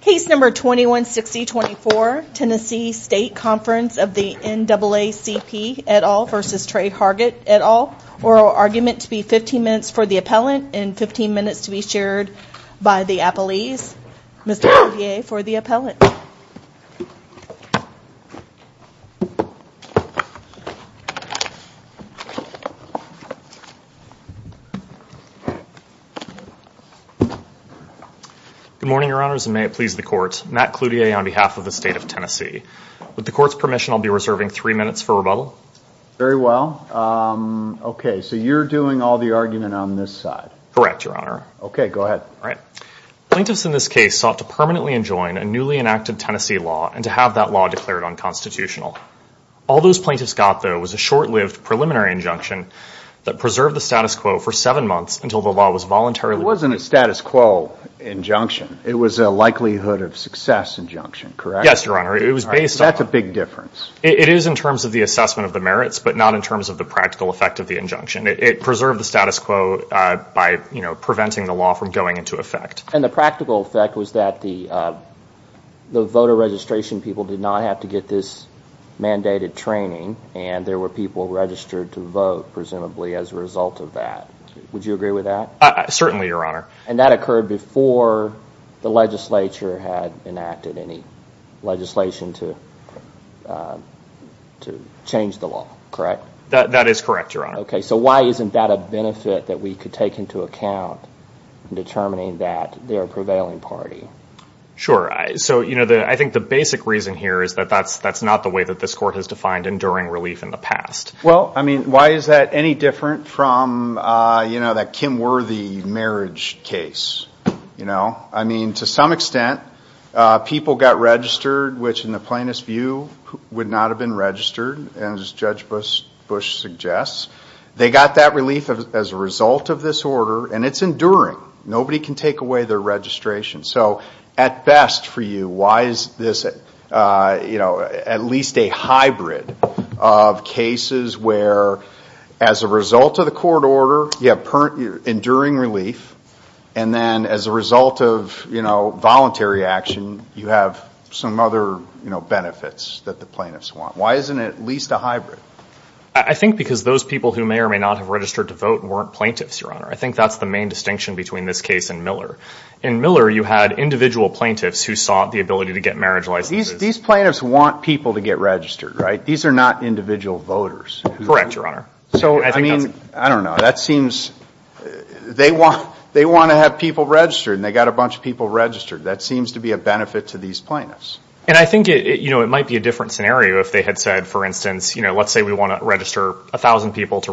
Case No. 216024, Tennessee State Conference of the NAACP et al. v. Tre Hargett et al. Oral argument to be 15 minutes for the appellant and 15 minutes to be shared by the appellees. Mr. Cloutier for the appellant. Good morning, Your Honors, and may it please the Court, Matt Cloutier on behalf of the State of Tennessee. With the Court's permission, I'll be reserving three minutes for rebuttal. Very well. Okay, so you're doing all the argument on this side? Correct, Your Honor. Okay, go ahead. All right. Plaintiffs in this case sought to permanently enjoin a newly enacted Tennessee law and to have that law declared unconstitutional. All those plaintiffs got, though, was a short-lived preliminary injunction that preserved the status quo for seven months until the law was voluntarily... It wasn't a status quo injunction. It was a likelihood of success injunction, correct? Yes, Your Honor. It was based on... That's a big difference. It is in terms of the assessment of the merits, but not in terms of the practical effect of the injunction. It preserved the status quo by preventing the law from going into effect. And the practical effect was that the voter registration people did not have to get this mandated training, and there were people registered to vote, presumably, as a result of that. Would you agree with that? Certainly, Your Honor. And that occurred before the legislature had enacted any legislation to change the law, correct? That is correct, Your Honor. Okay. So why isn't that a benefit that we could take into account in determining that they're a prevailing party? Sure. So, you know, I think the basic reason here is that that's not the way that this court has defined enduring relief in the past. Well, I mean, why is that any different from, you know, that Kim Worthy marriage case, you know? I mean, to some extent, people got registered, which, in the plaintiff's view, would not have been registered, as Judge Bush suggests. They got that relief as a result of this order, and it's enduring. Nobody can take away their registration. So, at best for you, why is this, you know, at least a hybrid of cases where, as a result of the court order, you have enduring relief, and then as a result of, you know, voluntary action, you have some other, you know, benefits that the plaintiffs want? Why isn't it at least a hybrid? I think because those people who may or may not have registered to vote weren't plaintiffs, Your Honor. I think that's the main distinction between this case and Miller. In Miller, you had individual plaintiffs who sought the ability to get marriage licenses. These plaintiffs want people to get registered, right? These are not individual voters. Correct, Your Honor. So, I mean, I don't know. That seems they want to have people registered, and they got a bunch of people registered. That seems to be a benefit to these plaintiffs. And I think, you know, it might be a different scenario if they had said, for instance, you know, let's say we want to register 1,000 people to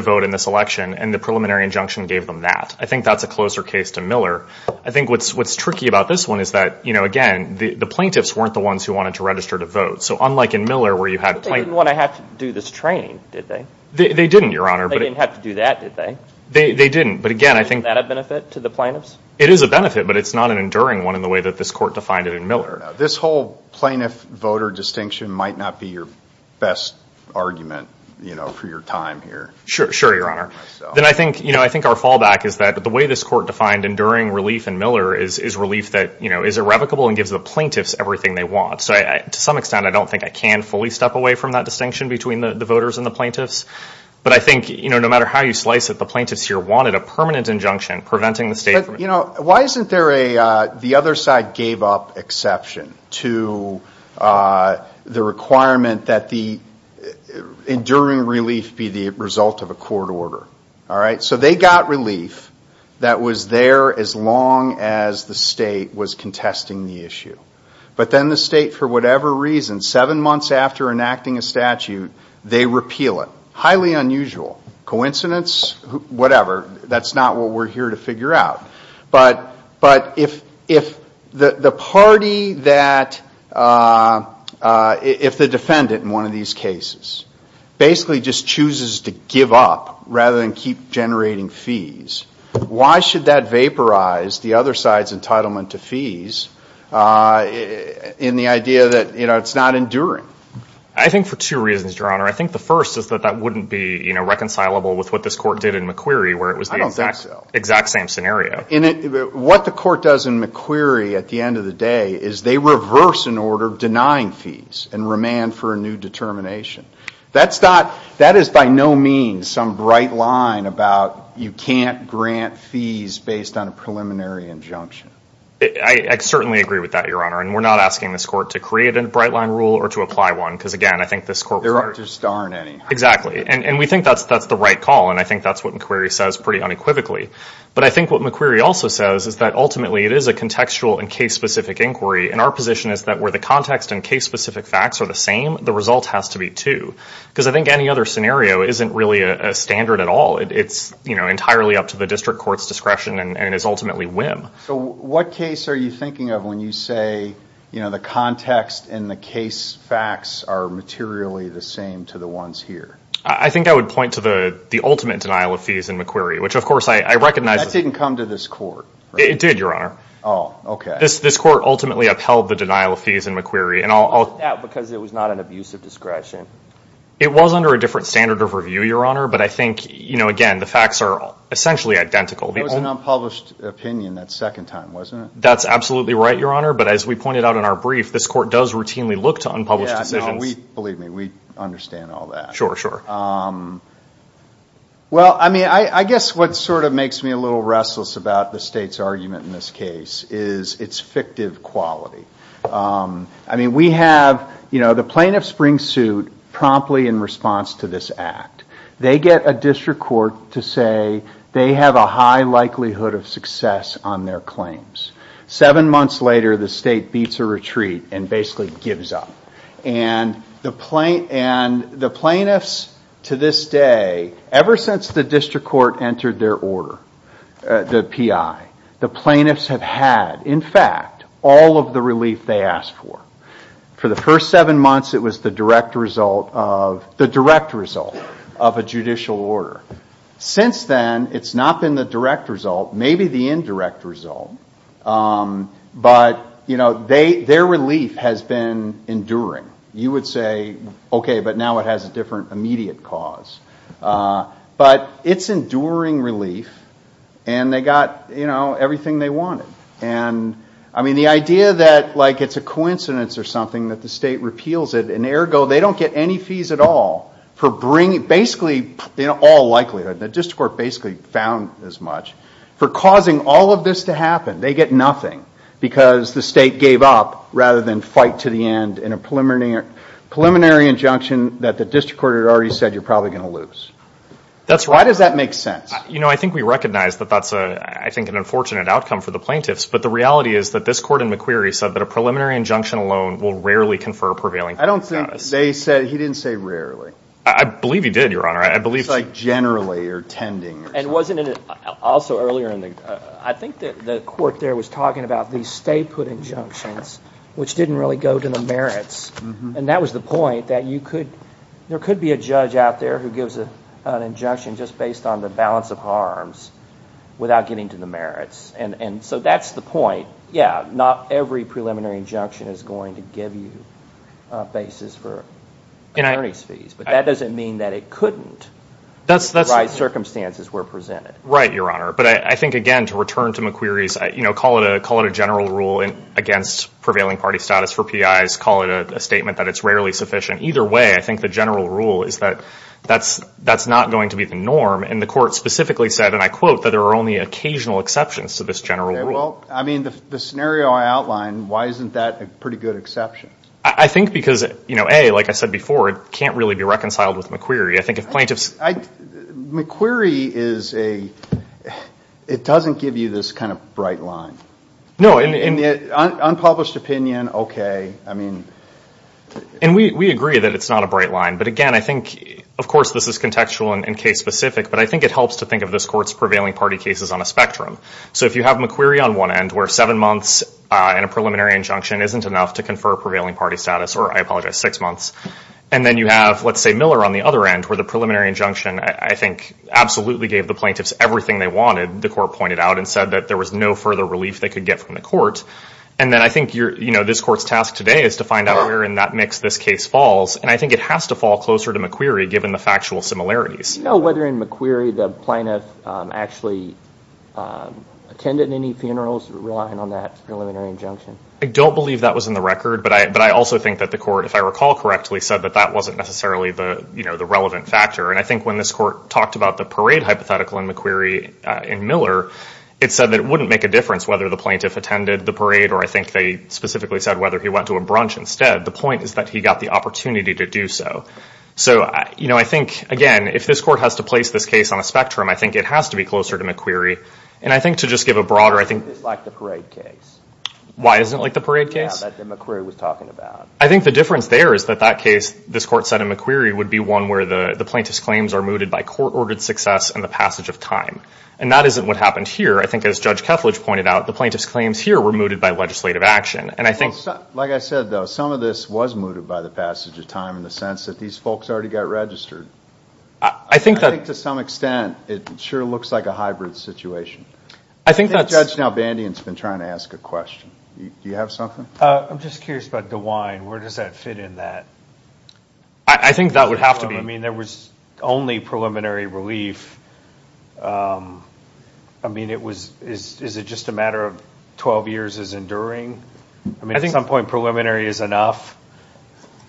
vote in this election, and the preliminary injunction gave them that. I think that's a closer case to Miller. I think what's tricky about this one is that, you know, again, the plaintiffs weren't the ones who wanted to register to vote. So, unlike in Miller where you had plaintiffs. But they didn't want to have to do this training, did they? They didn't, Your Honor. They didn't have to do that, did they? They didn't. But, again, I think. Isn't that a benefit to the plaintiffs? It is a benefit. But it's not an enduring one in the way that this court defined it in Miller. This whole plaintiff-voter distinction might not be your best argument, you know, for your time here. Sure. Sure, Your Honor. Then I think, you know, I think our fallback is that the way this court defined enduring relief in Miller is relief that, you know, is irrevocable and gives the plaintiffs everything they want. So, to some extent, I don't think I can fully step away from that distinction between the voters and the plaintiffs. But, you know, why isn't there a the other side gave up exception to the requirement that the enduring relief be the result of a court order? All right? So they got relief that was there as long as the state was contesting the issue. But then the state, for whatever reason, seven months after enacting a statute, they repeal it. Highly unusual. Coincidence? Whatever. That's not what we're here to figure out. But if the party that if the defendant in one of these cases basically just chooses to give up rather than keep generating fees, why should that vaporize the other side's entitlement to fees in the idea that, you know, it's not enduring? I think for two reasons, Your Honor. I think the first is that that wouldn't be, you know, reconcilable with what this court did in McQueary where it was the exact same scenario. I don't think so. What the court does in McQueary at the end of the day is they reverse an order denying fees and remand for a new determination. That is by no means some bright line about you can't grant fees based on a preliminary injunction. I certainly agree with that, Your Honor. And we're not asking this court to create a bright line rule or to apply one because, again, I think this court was right. There just aren't any. Exactly. And we think that's the right call, and I think that's what McQueary says pretty unequivocally. But I think what McQueary also says is that ultimately it is a contextual and case-specific inquiry, and our position is that where the context and case-specific facts are the same, the result has to be too because I think any other scenario isn't really a standard at all. It's, you know, entirely up to the district court's discretion and is ultimately whim. So what case are you thinking of when you say, you know, the context and the case facts are materially the same to the ones here? I think I would point to the ultimate denial of fees in McQueary, which, of course, I recognize. That didn't come to this court, right? It did, Your Honor. Oh, okay. This court ultimately upheld the denial of fees in McQueary. And I'll – Because it was not an abuse of discretion. It was under a different standard of review, Your Honor, but I think, you know, again, the facts are essentially identical. It was an unpublished opinion that second time, wasn't it? That's absolutely right, Your Honor, but as we pointed out in our brief, this court does routinely look to unpublished decisions. Believe me, we understand all that. Sure, sure. Well, I mean, I guess what sort of makes me a little restless about the state's argument in this case is its fictive quality. I mean, we have, you know, the plaintiff springs suit promptly in response to this act. They get a district court to say they have a high likelihood of success on their claims. Seven months later, the state beats a retreat and basically gives up. And the plaintiffs to this day, ever since the district court entered their order, the PI, the plaintiffs have had, in fact, all of the relief they asked for. For the first seven months, it was the direct result of a judicial order. Since then, it's not been the direct result, maybe the indirect result, but, you know, their relief has been enduring. You would say, okay, but now it has a different immediate cause. But it's enduring relief, and they got, you know, everything they wanted. And, I mean, the idea that, like, it's a coincidence or something that the state repeals it, and, ergo, they don't get any fees at all for bringing basically all likelihood. The district court basically found as much. For causing all of this to happen, they get nothing because the state gave up rather than fight to the end in a preliminary injunction that the district court had already said you're probably going to lose. That's right. Why does that make sense? You know, I think we recognize that that's, I think, an unfortunate outcome for the plaintiffs. But the reality is that this court in McQueary said that a preliminary injunction alone will rarely confer prevailing. I don't think they said, he didn't say rarely. I believe he did, Your Honor. I believe generally or tending. And wasn't it also earlier in the, I think the court there was talking about the state put injunctions, which didn't really go to the merits. And that was the point that you could, there could be a judge out there who gives an injunction just based on the balance of harms without getting to the merits. And so that's the point. Yeah, not every preliminary injunction is going to give you a basis for attorney's fees. But that doesn't mean that it couldn't. The right circumstances were presented. Right, Your Honor. But I think, again, to return to McQueary's, you know, call it a general rule against prevailing party status for PIs. Call it a statement that it's rarely sufficient. Either way, I think the general rule is that that's not going to be the norm. And the court specifically said, and I quote, that there are only occasional exceptions to this general rule. Well, I mean, the scenario I outlined, why isn't that a pretty good exception? I think because, you know, A, like I said before, it can't really be reconciled with McQueary. I think if plaintiffs... McQueary is a, it doesn't give you this kind of bright line. No, unpublished opinion, okay. I mean... And we agree that it's not a bright line. But, again, I think, of course, this is contextual and case-specific. But I think it helps to think of this Court's prevailing party cases on a spectrum. So if you have McQueary on one end, where seven months in a preliminary injunction isn't enough to confer prevailing party status, or, I apologize, six months, and then you have, let's say, Miller on the other end, where the preliminary injunction, I think, absolutely gave the plaintiffs everything they wanted, the Court pointed out and said that there was no further relief they could get from the Court. And then I think this Court's task today is to find out where in that mix this case falls. And I think it has to fall closer to McQueary, given the factual similarities. Do you know whether in McQueary the plaintiff actually attended any funerals relying on that preliminary injunction? I don't believe that was in the record. But I also think that the Court, if I recall correctly, said that that wasn't necessarily the relevant factor. And I think when this Court talked about the parade hypothetical in McQueary in Miller, it said that it wouldn't make a difference whether the plaintiff attended the parade, or I think they specifically said whether he went to a brunch instead. The point is that he got the opportunity to do so. So, you know, I think, again, if this Court has to place this case on a spectrum, I think it has to be closer to McQueary. And I think to just give a broader – It's like the parade case. Why isn't it like the parade case? Yeah, that McQueary was talking about. I think the difference there is that that case, this Court said in McQueary, would be one where the plaintiff's claims are mooted by court-ordered success and the passage of time. And that isn't what happened here. I think, as Judge Kethledge pointed out, the plaintiff's claims here were mooted by legislative action. And I think – Like I said, though, some of this was mooted by the passage of time in the sense that these folks already got registered. I think that – I think to some extent it sure looks like a hybrid situation. I think that's – I think Judge Nalbandian has been trying to ask a question. Do you have something? I'm just curious about DeWine. Where does that fit in that? I think that would have to be – I mean, there was only preliminary relief. I mean, it was – is it just a matter of 12 years is enduring? I mean, at some point preliminary is enough.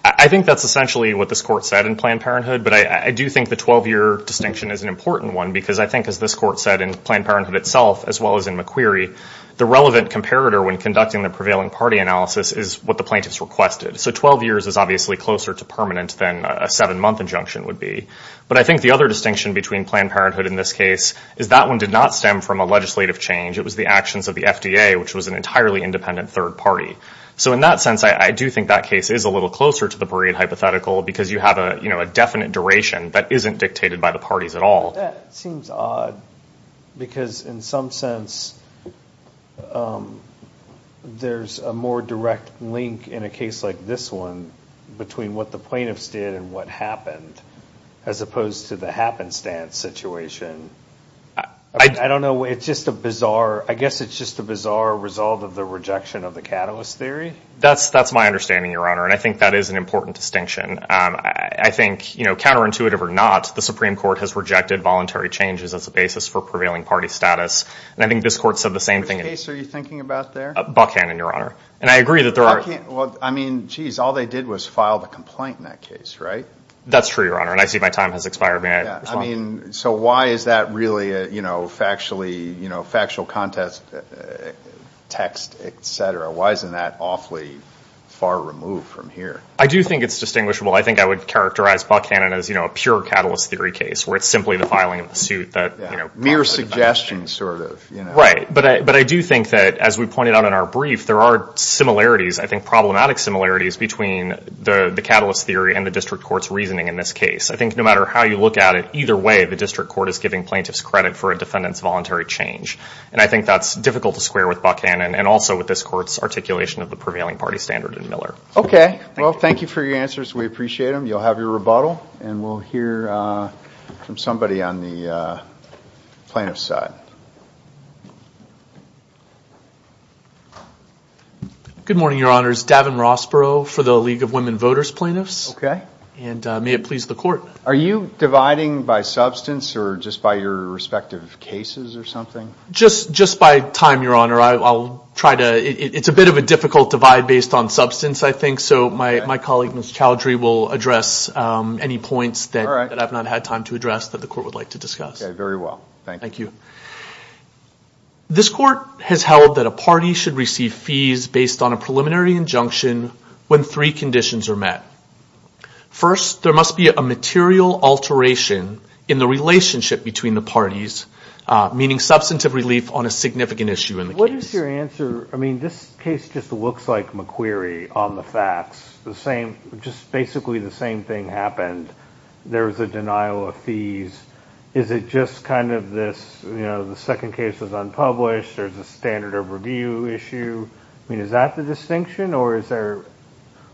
I think that's essentially what this Court said in Planned Parenthood. But I do think the 12-year distinction is an important one because I think, as this Court said, in Planned Parenthood itself as well as in McQueary, the relevant comparator when conducting the prevailing party analysis is what the plaintiffs requested. So 12 years is obviously closer to permanent than a seven-month injunction would be. But I think the other distinction between Planned Parenthood in this case is that one did not stem from a legislative change. It was the actions of the FDA, which was an entirely independent third party. So in that sense, I do think that case is a little closer to the Breed hypothetical because you have a definite duration that isn't dictated by the parties at all. Well, that seems odd because in some sense there's a more direct link in a case like this one between what the plaintiffs did and what happened as opposed to the happenstance situation. I don't know. It's just a bizarre – I guess it's just a bizarre result of the rejection of the catalyst theory. That's my understanding, Your Honor, and I think that is an important distinction. I think, counterintuitive or not, the Supreme Court has rejected voluntary changes as a basis for prevailing party status. And I think this Court said the same thing. What case are you thinking about there? Buckhannon, Your Honor, and I agree that there are – Buckhannon – well, I mean, geez, all they did was file the complaint in that case, right? That's true, Your Honor, and I see my time has expired. May I respond? Yeah, I mean, so why is that really a factually – factual context, text, et cetera? Why isn't that awfully far removed from here? I do think it's distinguishable. I think I would characterize Buckhannon as, you know, a pure catalyst theory case where it's simply the filing of the suit that – Yeah, mere suggestion, sort of. Right, but I do think that, as we pointed out in our brief, there are similarities, I think problematic similarities, between the catalyst theory and the district court's reasoning in this case. I think no matter how you look at it, either way the district court is giving plaintiffs credit for a defendant's voluntary change. And I think that's difficult to square with Buckhannon and also with this Court's articulation of the prevailing party standard in Miller. Okay. Well, thank you for your answers. We appreciate them. You'll have your rebuttal, and we'll hear from somebody on the plaintiff's side. Good morning, Your Honors. Davin Rossborough for the League of Women Voters Plaintiffs. Okay. And may it please the Court. Are you dividing by substance or just by your respective cases or something? Just by time, Your Honor. I'll try to – it's a bit of a difficult divide based on substance. So my colleague, Mr. Chowdhury, will address any points that I've not had time to address that the Court would like to discuss. Okay. Very well. Thank you. Thank you. This Court has held that a party should receive fees based on a preliminary injunction when three conditions are met. First, there must be a material alteration in the relationship between the parties, meaning substantive relief on a significant issue in the case. What is your answer – I mean, this case just looks like McQueary on the facts. The same – just basically the same thing happened. There was a denial of fees. Is it just kind of this – you know, the second case was unpublished. There's a standard of review issue. I mean, is that the distinction, or is there,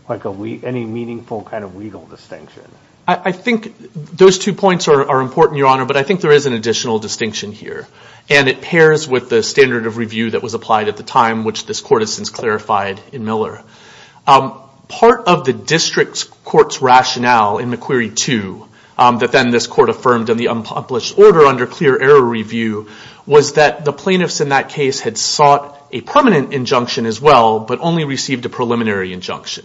like, any meaningful kind of legal distinction? I think those two points are important, Your Honor, but I think there is an additional distinction here. And it pairs with the standard of review that was applied at the time, which this Court has since clarified in Miller. Part of the district court's rationale in McQueary 2 that then this Court affirmed in the unpublished order under clear error review was that the plaintiffs in that case had sought a permanent injunction as well but only received a preliminary injunction.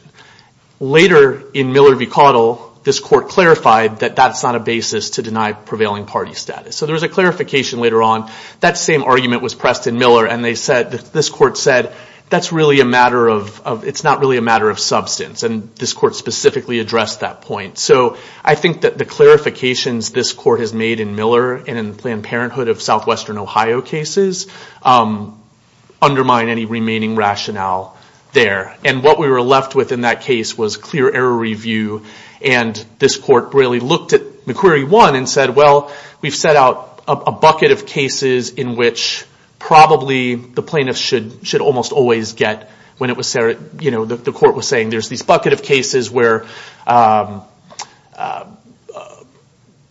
Later, in Miller v. Cottle, this Court clarified that that's not a basis to deny prevailing party status. So there was a clarification later on. That same argument was pressed in Miller, and this Court said, that's really a matter of – it's not really a matter of substance. And this Court specifically addressed that point. So I think that the clarifications this Court has made in Miller and in Planned Parenthood of southwestern Ohio cases undermine any remaining rationale there. And what we were left with in that case was clear error review, and this Court really looked at McQueary 1 and said, well, we've set out a bucket of cases in which probably the plaintiffs should almost always get when it was – you know, the Court was saying there's this bucket of cases where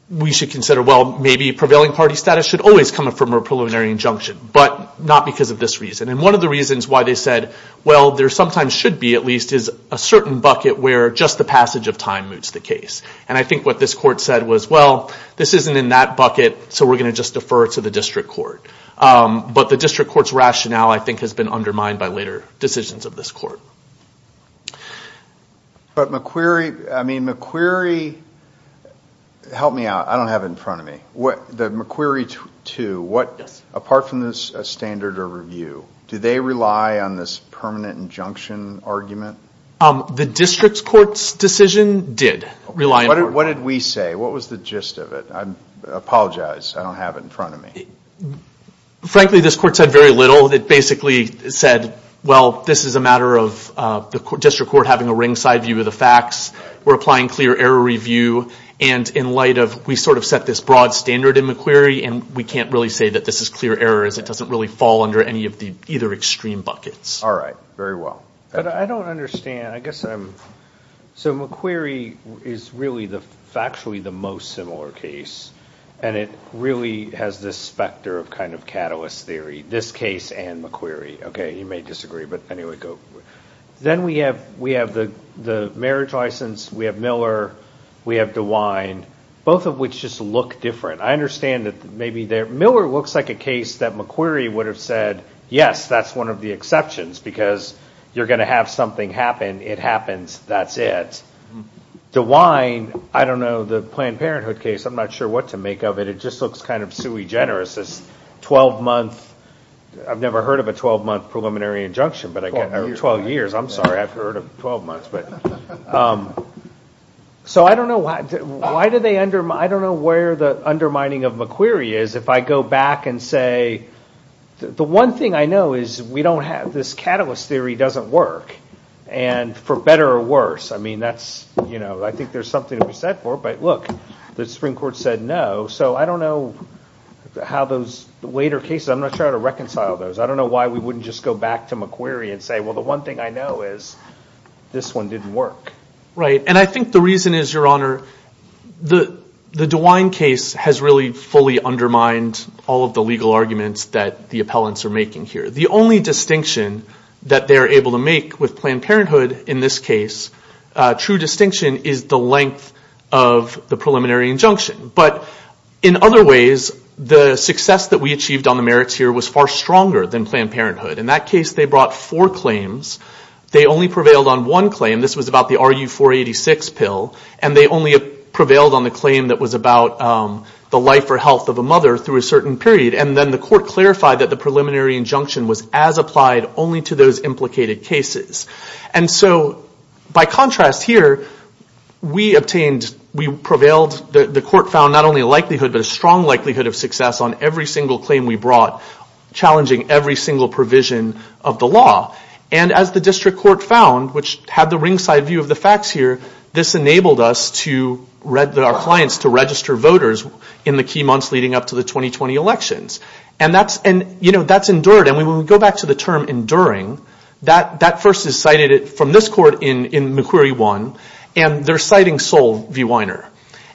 we should consider, well, maybe prevailing party status should always come from a preliminary injunction but not because of this reason. And one of the reasons why they said, well, there sometimes should be at least is a certain bucket where just the passage of time moots the case. And I think what this Court said was, well, this isn't in that bucket, so we're going to just defer it to the District Court. But the District Court's rationale, I think, has been undermined by later decisions of this Court. But McQueary – I mean, McQueary – help me out. I don't have it in front of me. The McQueary 2, apart from this standard of review, do they rely on this permanent injunction argument? The District Court's decision did rely on it. What did we say? What was the gist of it? I apologize. I don't have it in front of me. Frankly, this Court said very little. It basically said, well, this is a matter of the District Court having a ringside view of the facts. We're applying clear error review. And in light of – we sort of set this broad standard in McQueary, and we can't really say that this is clear error as it doesn't really fall under any of the either extreme buckets. All right. Very well. But I don't understand. I guess I'm – so McQueary is really factually the most similar case, and it really has this specter of kind of catalyst theory, this case and McQueary. Okay, you may disagree, but anyway, go. Then we have the marriage license. We have Miller. We have DeWine, both of which just look different. I understand that maybe they're – Miller looks like a case that McQueary would have said, yes, that's one of the exceptions because you're going to have something happen. It happens. That's it. DeWine, I don't know, the Planned Parenthood case, I'm not sure what to make of it. It just looks kind of sui generis, this 12-month – I've never heard of a 12-month preliminary injunction. 12 years. 12 years. I'm sorry. I've heard of 12 months. So I don't know why do they – I don't know where the undermining of McQueary is. If I go back and say – the one thing I know is we don't have – this catalyst theory doesn't work, and for better or worse, I mean, that's – I think there's something to be said for it. But look, the Supreme Court said no, so I don't know how those later cases – I'm not sure how to reconcile those. I don't know why we wouldn't just go back to McQueary and say, well, the one thing I know is this one didn't work. Right, and I think the reason is, Your Honor, the DeWine case has really fully undermined all of the legal arguments that the appellants are making here. The only distinction that they're able to make with Planned Parenthood in this case, true distinction, is the length of the preliminary injunction. But in other ways, the success that we achieved on the merits here was far stronger than Planned Parenthood. In that case, they brought four claims. They only prevailed on one claim. This was about the RU486 pill, and they only prevailed on the claim that was about the life or health of a mother through a certain period. And then the court clarified that the preliminary injunction was as applied only to those implicated cases. And so by contrast here, we obtained – we prevailed – the court found not only a likelihood, but a strong likelihood of success on every single claim we brought, challenging every single provision of the law. And as the district court found, which had the ringside view of the facts here, this enabled us to – our clients to register voters in the key months leading up to the 2020 elections. And that's – and, you know, that's endured. And when we go back to the term enduring, that first is cited from this court in Macquarie 1, and they're citing Sol V. Weiner.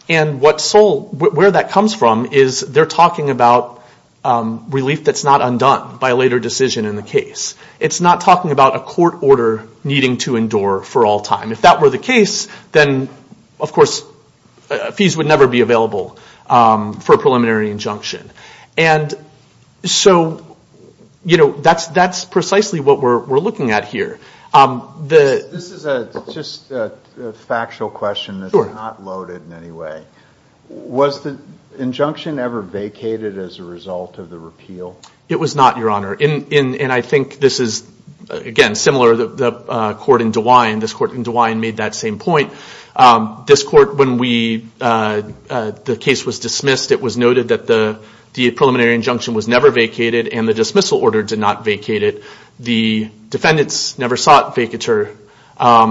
And what Sol – where that comes from is they're talking about relief that's not undone by a later decision in the case. It's not talking about a court order needing to endure for all time. If that were the case, then, of course, fees would never be available for a preliminary injunction. And so, you know, that's precisely what we're looking at here. This is just a factual question that's not loaded in any way. Was the injunction ever vacated as a result of the repeal? It was not, Your Honor. And I think this is, again, similar. The court in DeWine – this court in DeWine made that same point. This court, when we – the case was dismissed, it was noted that the preliminary injunction was never vacated and the dismissal order did not vacate it. The defendants never sought vacatur.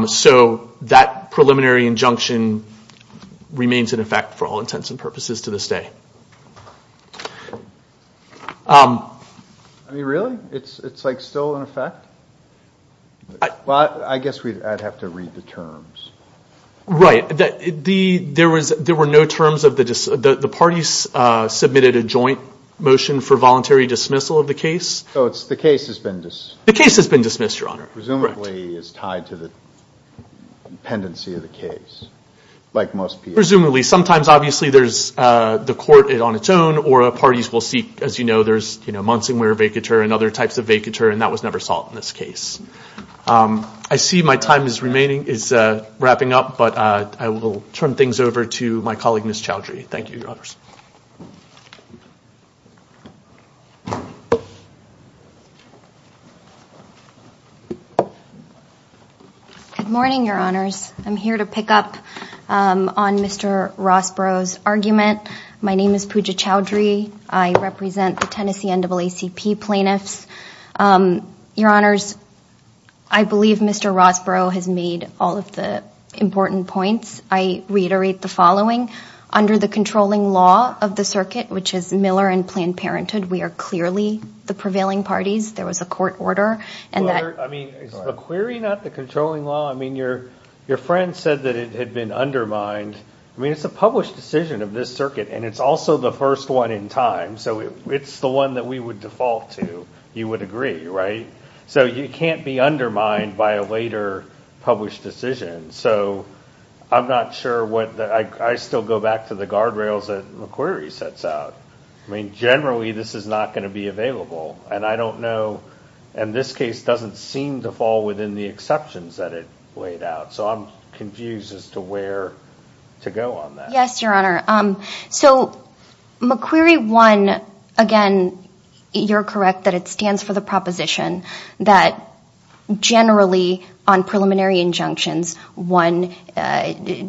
So that preliminary injunction remains in effect for all intents and purposes to this day. I mean, really? It's, like, still in effect? Well, I guess I'd have to read the terms. Right. There were no terms of the – the parties submitted a joint motion for voluntary dismissal of the case. So the case has been – The case has been dismissed, Your Honor. Presumably is tied to the dependency of the case, like most people. Presumably. Sometimes, obviously, there's the court on its own, or parties will seek, as you know, there's months in where vacatur and other types of vacatur, and that was never sought in this case. I see my time is remaining – is wrapping up, but I will turn things over to my colleague, Ms. Chowdhury. Thank you, Your Honors. Good morning, Your Honors. I'm here to pick up on Mr. Rossborough's argument. My name is Pooja Chowdhury. I represent the Tennessee NAACP plaintiffs. Your Honors, I believe Mr. Rossborough has made all of the important points. I reiterate the following. Under the controlling law of the circuit, which is Miller and Planned Parenthood, we are clearly the prevailing parties. There was a court order, and that – I mean, is the query not the controlling law? I mean, your friend said that it had been undermined. I mean, it's a published decision of this circuit, and it's also the first one in time, so it's the one that we would default to. You would agree, right? So you can't be undermined by a later published decision. So I'm not sure what – I still go back to the guardrails that the query sets out. I mean, generally, this is not going to be available, and I don't know – and this case doesn't seem to fall within the exceptions that it laid out. So I'm confused as to where to go on that. Yes, your Honor. So McQueary 1, again, you're correct that it stands for the proposition that, generally, on preliminary injunctions, 1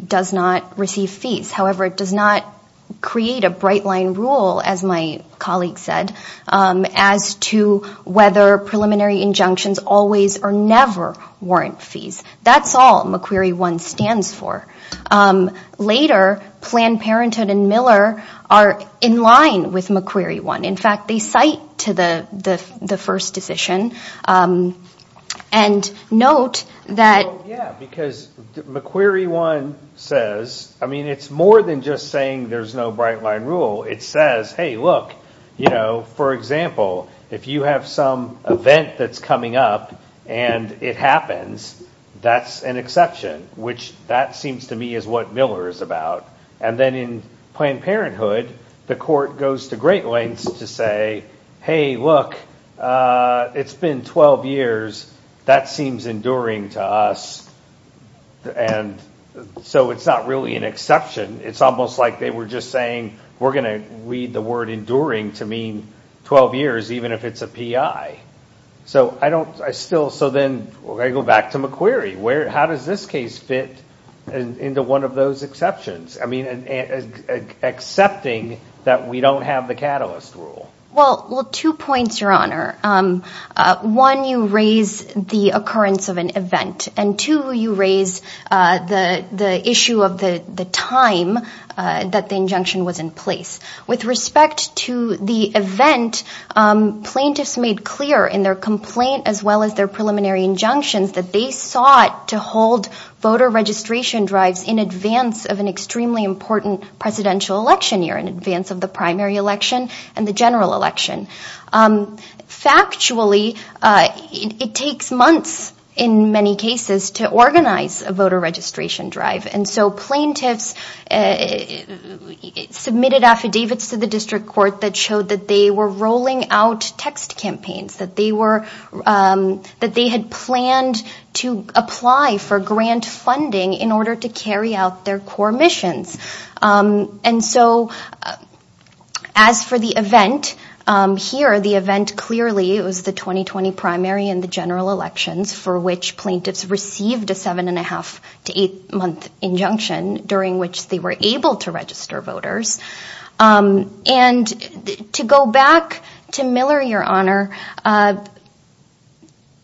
does not receive fees. However, it does not create a bright-line rule, as my colleague said, as to whether preliminary injunctions always or never warrant fees. That's all McQueary 1 stands for. Later, Planned Parenthood and Miller are in line with McQueary 1. In fact, they cite to the first decision and note that – Well, yeah, because McQueary 1 says – I mean, it's more than just saying there's no bright-line rule. It says, hey, look, you know, for example, if you have some event that's coming up and it happens, that's an exception, which that seems to me is what Miller is about. And then in Planned Parenthood, the court goes to great lengths to say, hey, look, it's been 12 years. That seems enduring to us, and so it's not really an exception. It's almost like they were just saying we're going to read the word enduring to mean 12 years, even if it's a PI. So I don't – I still – so then I go back to McQueary. How does this case fit into one of those exceptions? I mean, accepting that we don't have the catalyst rule. Well, two points, Your Honor. One, you raise the occurrence of an event, and two, you raise the issue of the time that the injunction was in place. With respect to the event, plaintiffs made clear in their complaint as well as their preliminary injunctions that they sought to hold voter registration drives in advance of an extremely important presidential election year, in advance of the primary election and the general election. Factually, it takes months in many cases to organize a voter registration drive, and so plaintiffs submitted affidavits to the district court that showed that they were rolling out text campaigns, that they were – that they had planned to apply for grant funding in order to carry out their core missions. And so as for the event, here the event clearly was the 2020 primary and the general elections for which plaintiffs received a seven-and-a-half to eight-month injunction during which they were able to register voters. And to go back to Miller, Your Honor,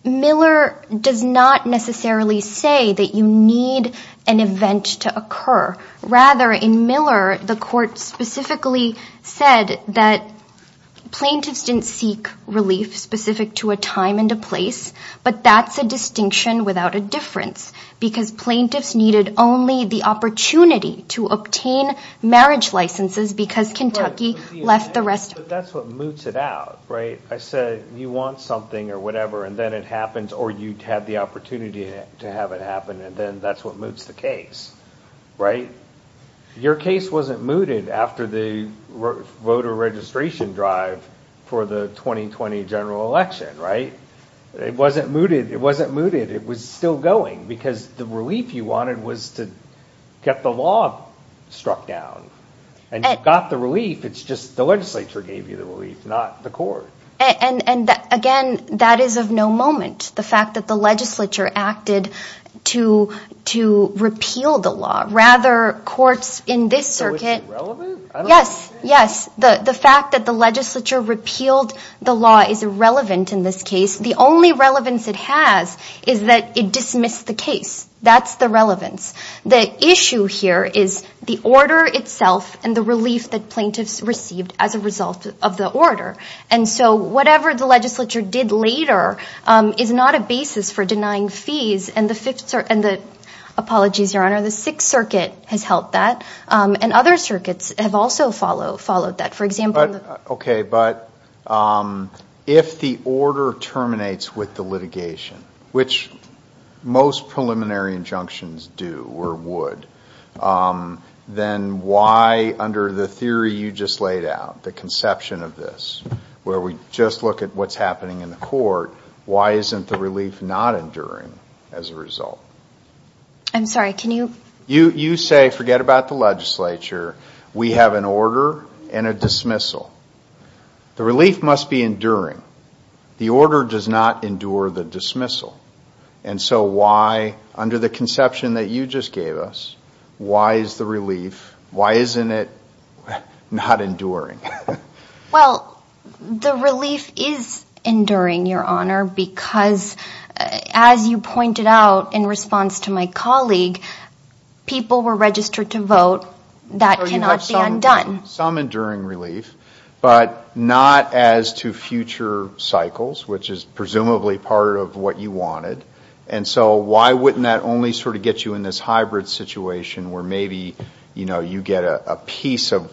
Miller does not necessarily say that you need an event to occur. Rather, in Miller, the court specifically said that plaintiffs didn't seek relief specific to a time and a place, but that's a distinction without a difference because plaintiffs needed only the opportunity to obtain marriage licenses because Kentucky left the rest – But that's what moots it out, right? I said you want something or whatever, and then it happens, or you had the opportunity to have it happen, and then that's what moots the case, right? Your case wasn't mooted after the voter registration drive for the 2020 general election, right? It wasn't mooted. It wasn't mooted. It was still going because the relief you wanted was to get the law struck down, and you got the relief. It's just the legislature gave you the relief, not the court. And, again, that is of no moment, the fact that the legislature acted to repeal the law. Rather, courts in this circuit – So it's irrelevant? Yes, yes. The fact that the legislature repealed the law is irrelevant in this case. The only relevance it has is that it dismissed the case. That's the relevance. The issue here is the order itself and the relief that plaintiffs received as a result of the order. And so whatever the legislature did later is not a basis for denying fees, and the Fifth – and the – apologies, Your Honor – the Sixth Circuit has helped that, and other circuits have also followed that. For example – Okay, but if the order terminates with the litigation, which most preliminary injunctions do or would, then why, under the theory you just laid out, the conception of this, where we just look at what's happening in the court, why isn't the relief not enduring as a result? I'm sorry, can you – You say, forget about the legislature, we have an order and a dismissal. The relief must be enduring. The order does not endure the dismissal. And so why, under the conception that you just gave us, why is the relief, why isn't it not enduring? Well, the relief is enduring, Your Honor, because as you pointed out in response to my colleague, people were registered to vote, that cannot be undone. Some enduring relief, but not as to future cycles, which is presumably part of what you wanted. And so why wouldn't that only sort of get you in this hybrid situation where maybe, you know, you get a piece of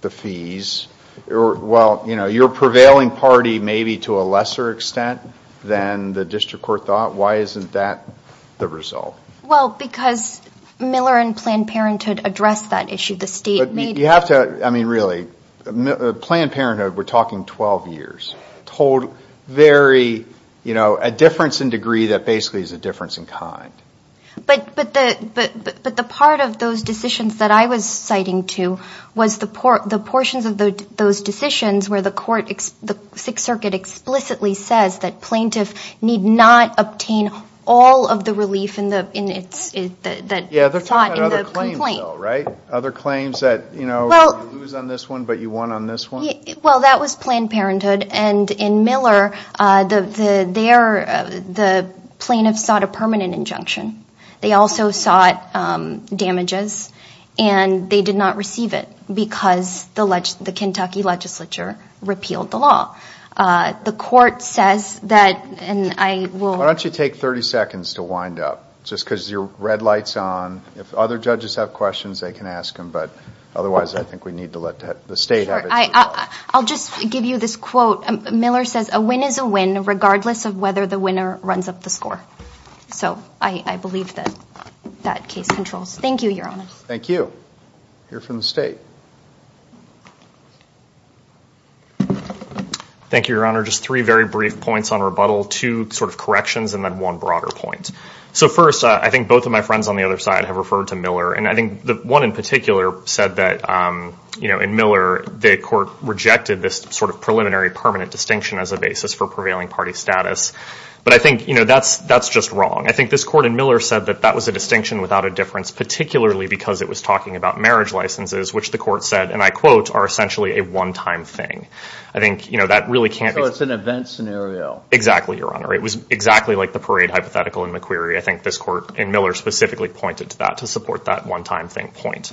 the fees? Well, you know, your prevailing party may be to a lesser extent than the district court thought. Why isn't that the result? Well, because Miller and Planned Parenthood addressed that issue. But you have to – I mean, really, Planned Parenthood, we're talking 12 years. A difference in degree that basically is a difference in kind. But the part of those decisions that I was citing to was the portions of those decisions where the court, the Sixth Circuit explicitly says that plaintiffs need not obtain all of the relief that's sought in the complaint. Other claims that, you know, you lose on this one, but you won on this one? Well, that was Planned Parenthood. And in Miller, the plaintiffs sought a permanent injunction. They also sought damages, and they did not receive it because the Kentucky legislature repealed the law. The court says that – and I will – Why don't you take 30 seconds to wind up, just because your red light's on. If other judges have questions, they can ask them. But otherwise, I think we need to let the state have it. Sure. I'll just give you this quote. Miller says, a win is a win, regardless of whether the winner runs up the score. So I believe that that case controls. Thank you, Your Honor. Thank you. Hear from the state. Thank you, Your Honor. Just three very brief points on rebuttal, two sort of corrections, and then one broader point. So first, I think both of my friends on the other side have referred to Miller. And I think the one in particular said that, you know, in Miller, the court rejected this sort of preliminary permanent distinction as a basis for prevailing party status. But I think, you know, that's just wrong. I think this court in Miller said that that was a distinction without a difference, particularly because it was talking about marriage licenses, which the court said, and I quote, are essentially a one-time thing. I think, you know, that really can't be – So it's an event scenario. Exactly, Your Honor. It was exactly like the parade hypothetical in McQueary. I think this court in Miller specifically pointed to that to support that one-time thing point.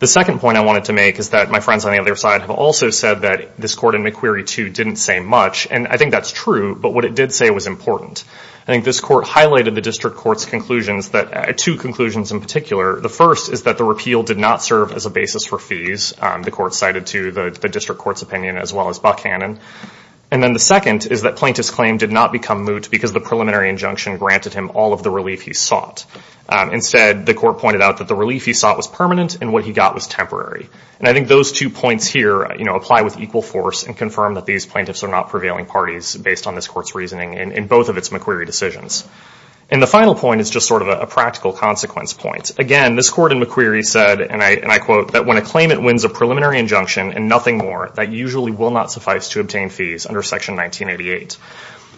The second point I wanted to make is that my friends on the other side have also said that this court in McQueary, too, didn't say much. And I think that's true. But what it did say was important. I think this court highlighted the district court's conclusions, two conclusions in particular. The first is that the repeal did not serve as a basis for fees. The court cited to the district court's opinion as well as Buckhannon. And then the second is that plaintiff's claim did not become moot because the preliminary injunction granted him all of the relief he sought. Instead, the court pointed out that the relief he sought was permanent and what he got was temporary. And I think those two points here, you know, apply with equal force and confirm that these plaintiffs are not prevailing parties based on this court's reasoning in both of its McQueary decisions. And the final point is just sort of a practical consequence point. Again, this court in McQueary said, and I quote, that when a claimant wins a preliminary injunction and nothing more, that usually will not suffice to obtain fees under Section 1988.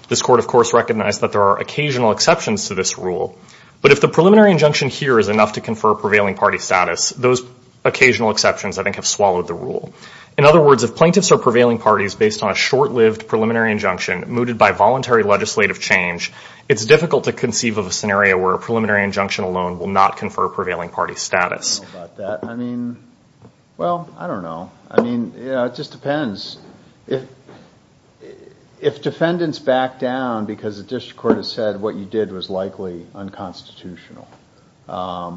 This court, of course, recognized that there are occasional exceptions to this rule. But if the preliminary injunction here is enough to confer prevailing party status, those occasional exceptions I think have swallowed the rule. In other words, if plaintiffs are prevailing parties based on a short-lived preliminary injunction mooted by voluntary legislative change, it's difficult to conceive of a scenario where a preliminary injunction alone will not confer prevailing party status. I don't know about that. I mean, well, I don't know. I mean, you know, it just depends. If defendants back down because the district court has said what you did was likely unconstitutional, I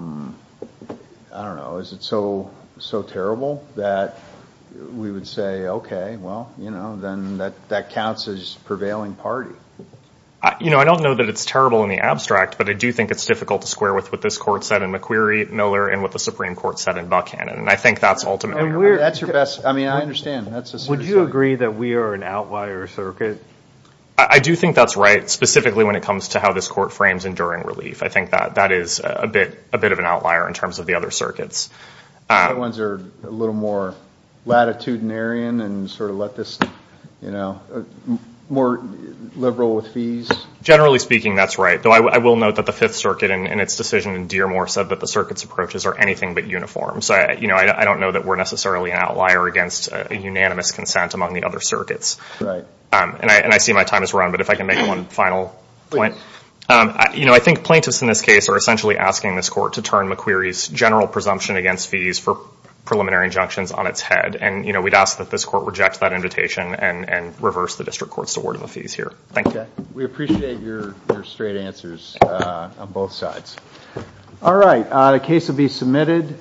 don't know, is it so terrible that we would say, okay, well, you know, then that counts as prevailing party? You know, I don't know that it's terrible in the abstract, and I think that's ultimate. That's your best. I mean, I understand. Would you agree that we are an outlier circuit? I do think that's right, specifically when it comes to how this court frames enduring relief. I think that is a bit of an outlier in terms of the other circuits. The other ones are a little more latitudinarian and sort of let this, you know, more liberal with fees. Generally speaking, that's right. Though I will note that the Fifth Circuit in its decision in Dearmore said that the circuit's approaches are anything but uniform. So, you know, I don't know that we're necessarily an outlier against a unanimous consent among the other circuits. Right. And I see my time has run, but if I can make one final point. Please. You know, I think plaintiffs in this case are essentially asking this court to turn McQueary's general presumption against fees for preliminary injunctions on its head, and, you know, we'd ask that this court reject that invitation and reverse the district court's award of the fees here. Thank you. Okay. We appreciate your straight answers on both sides. All right. The case will be submitted.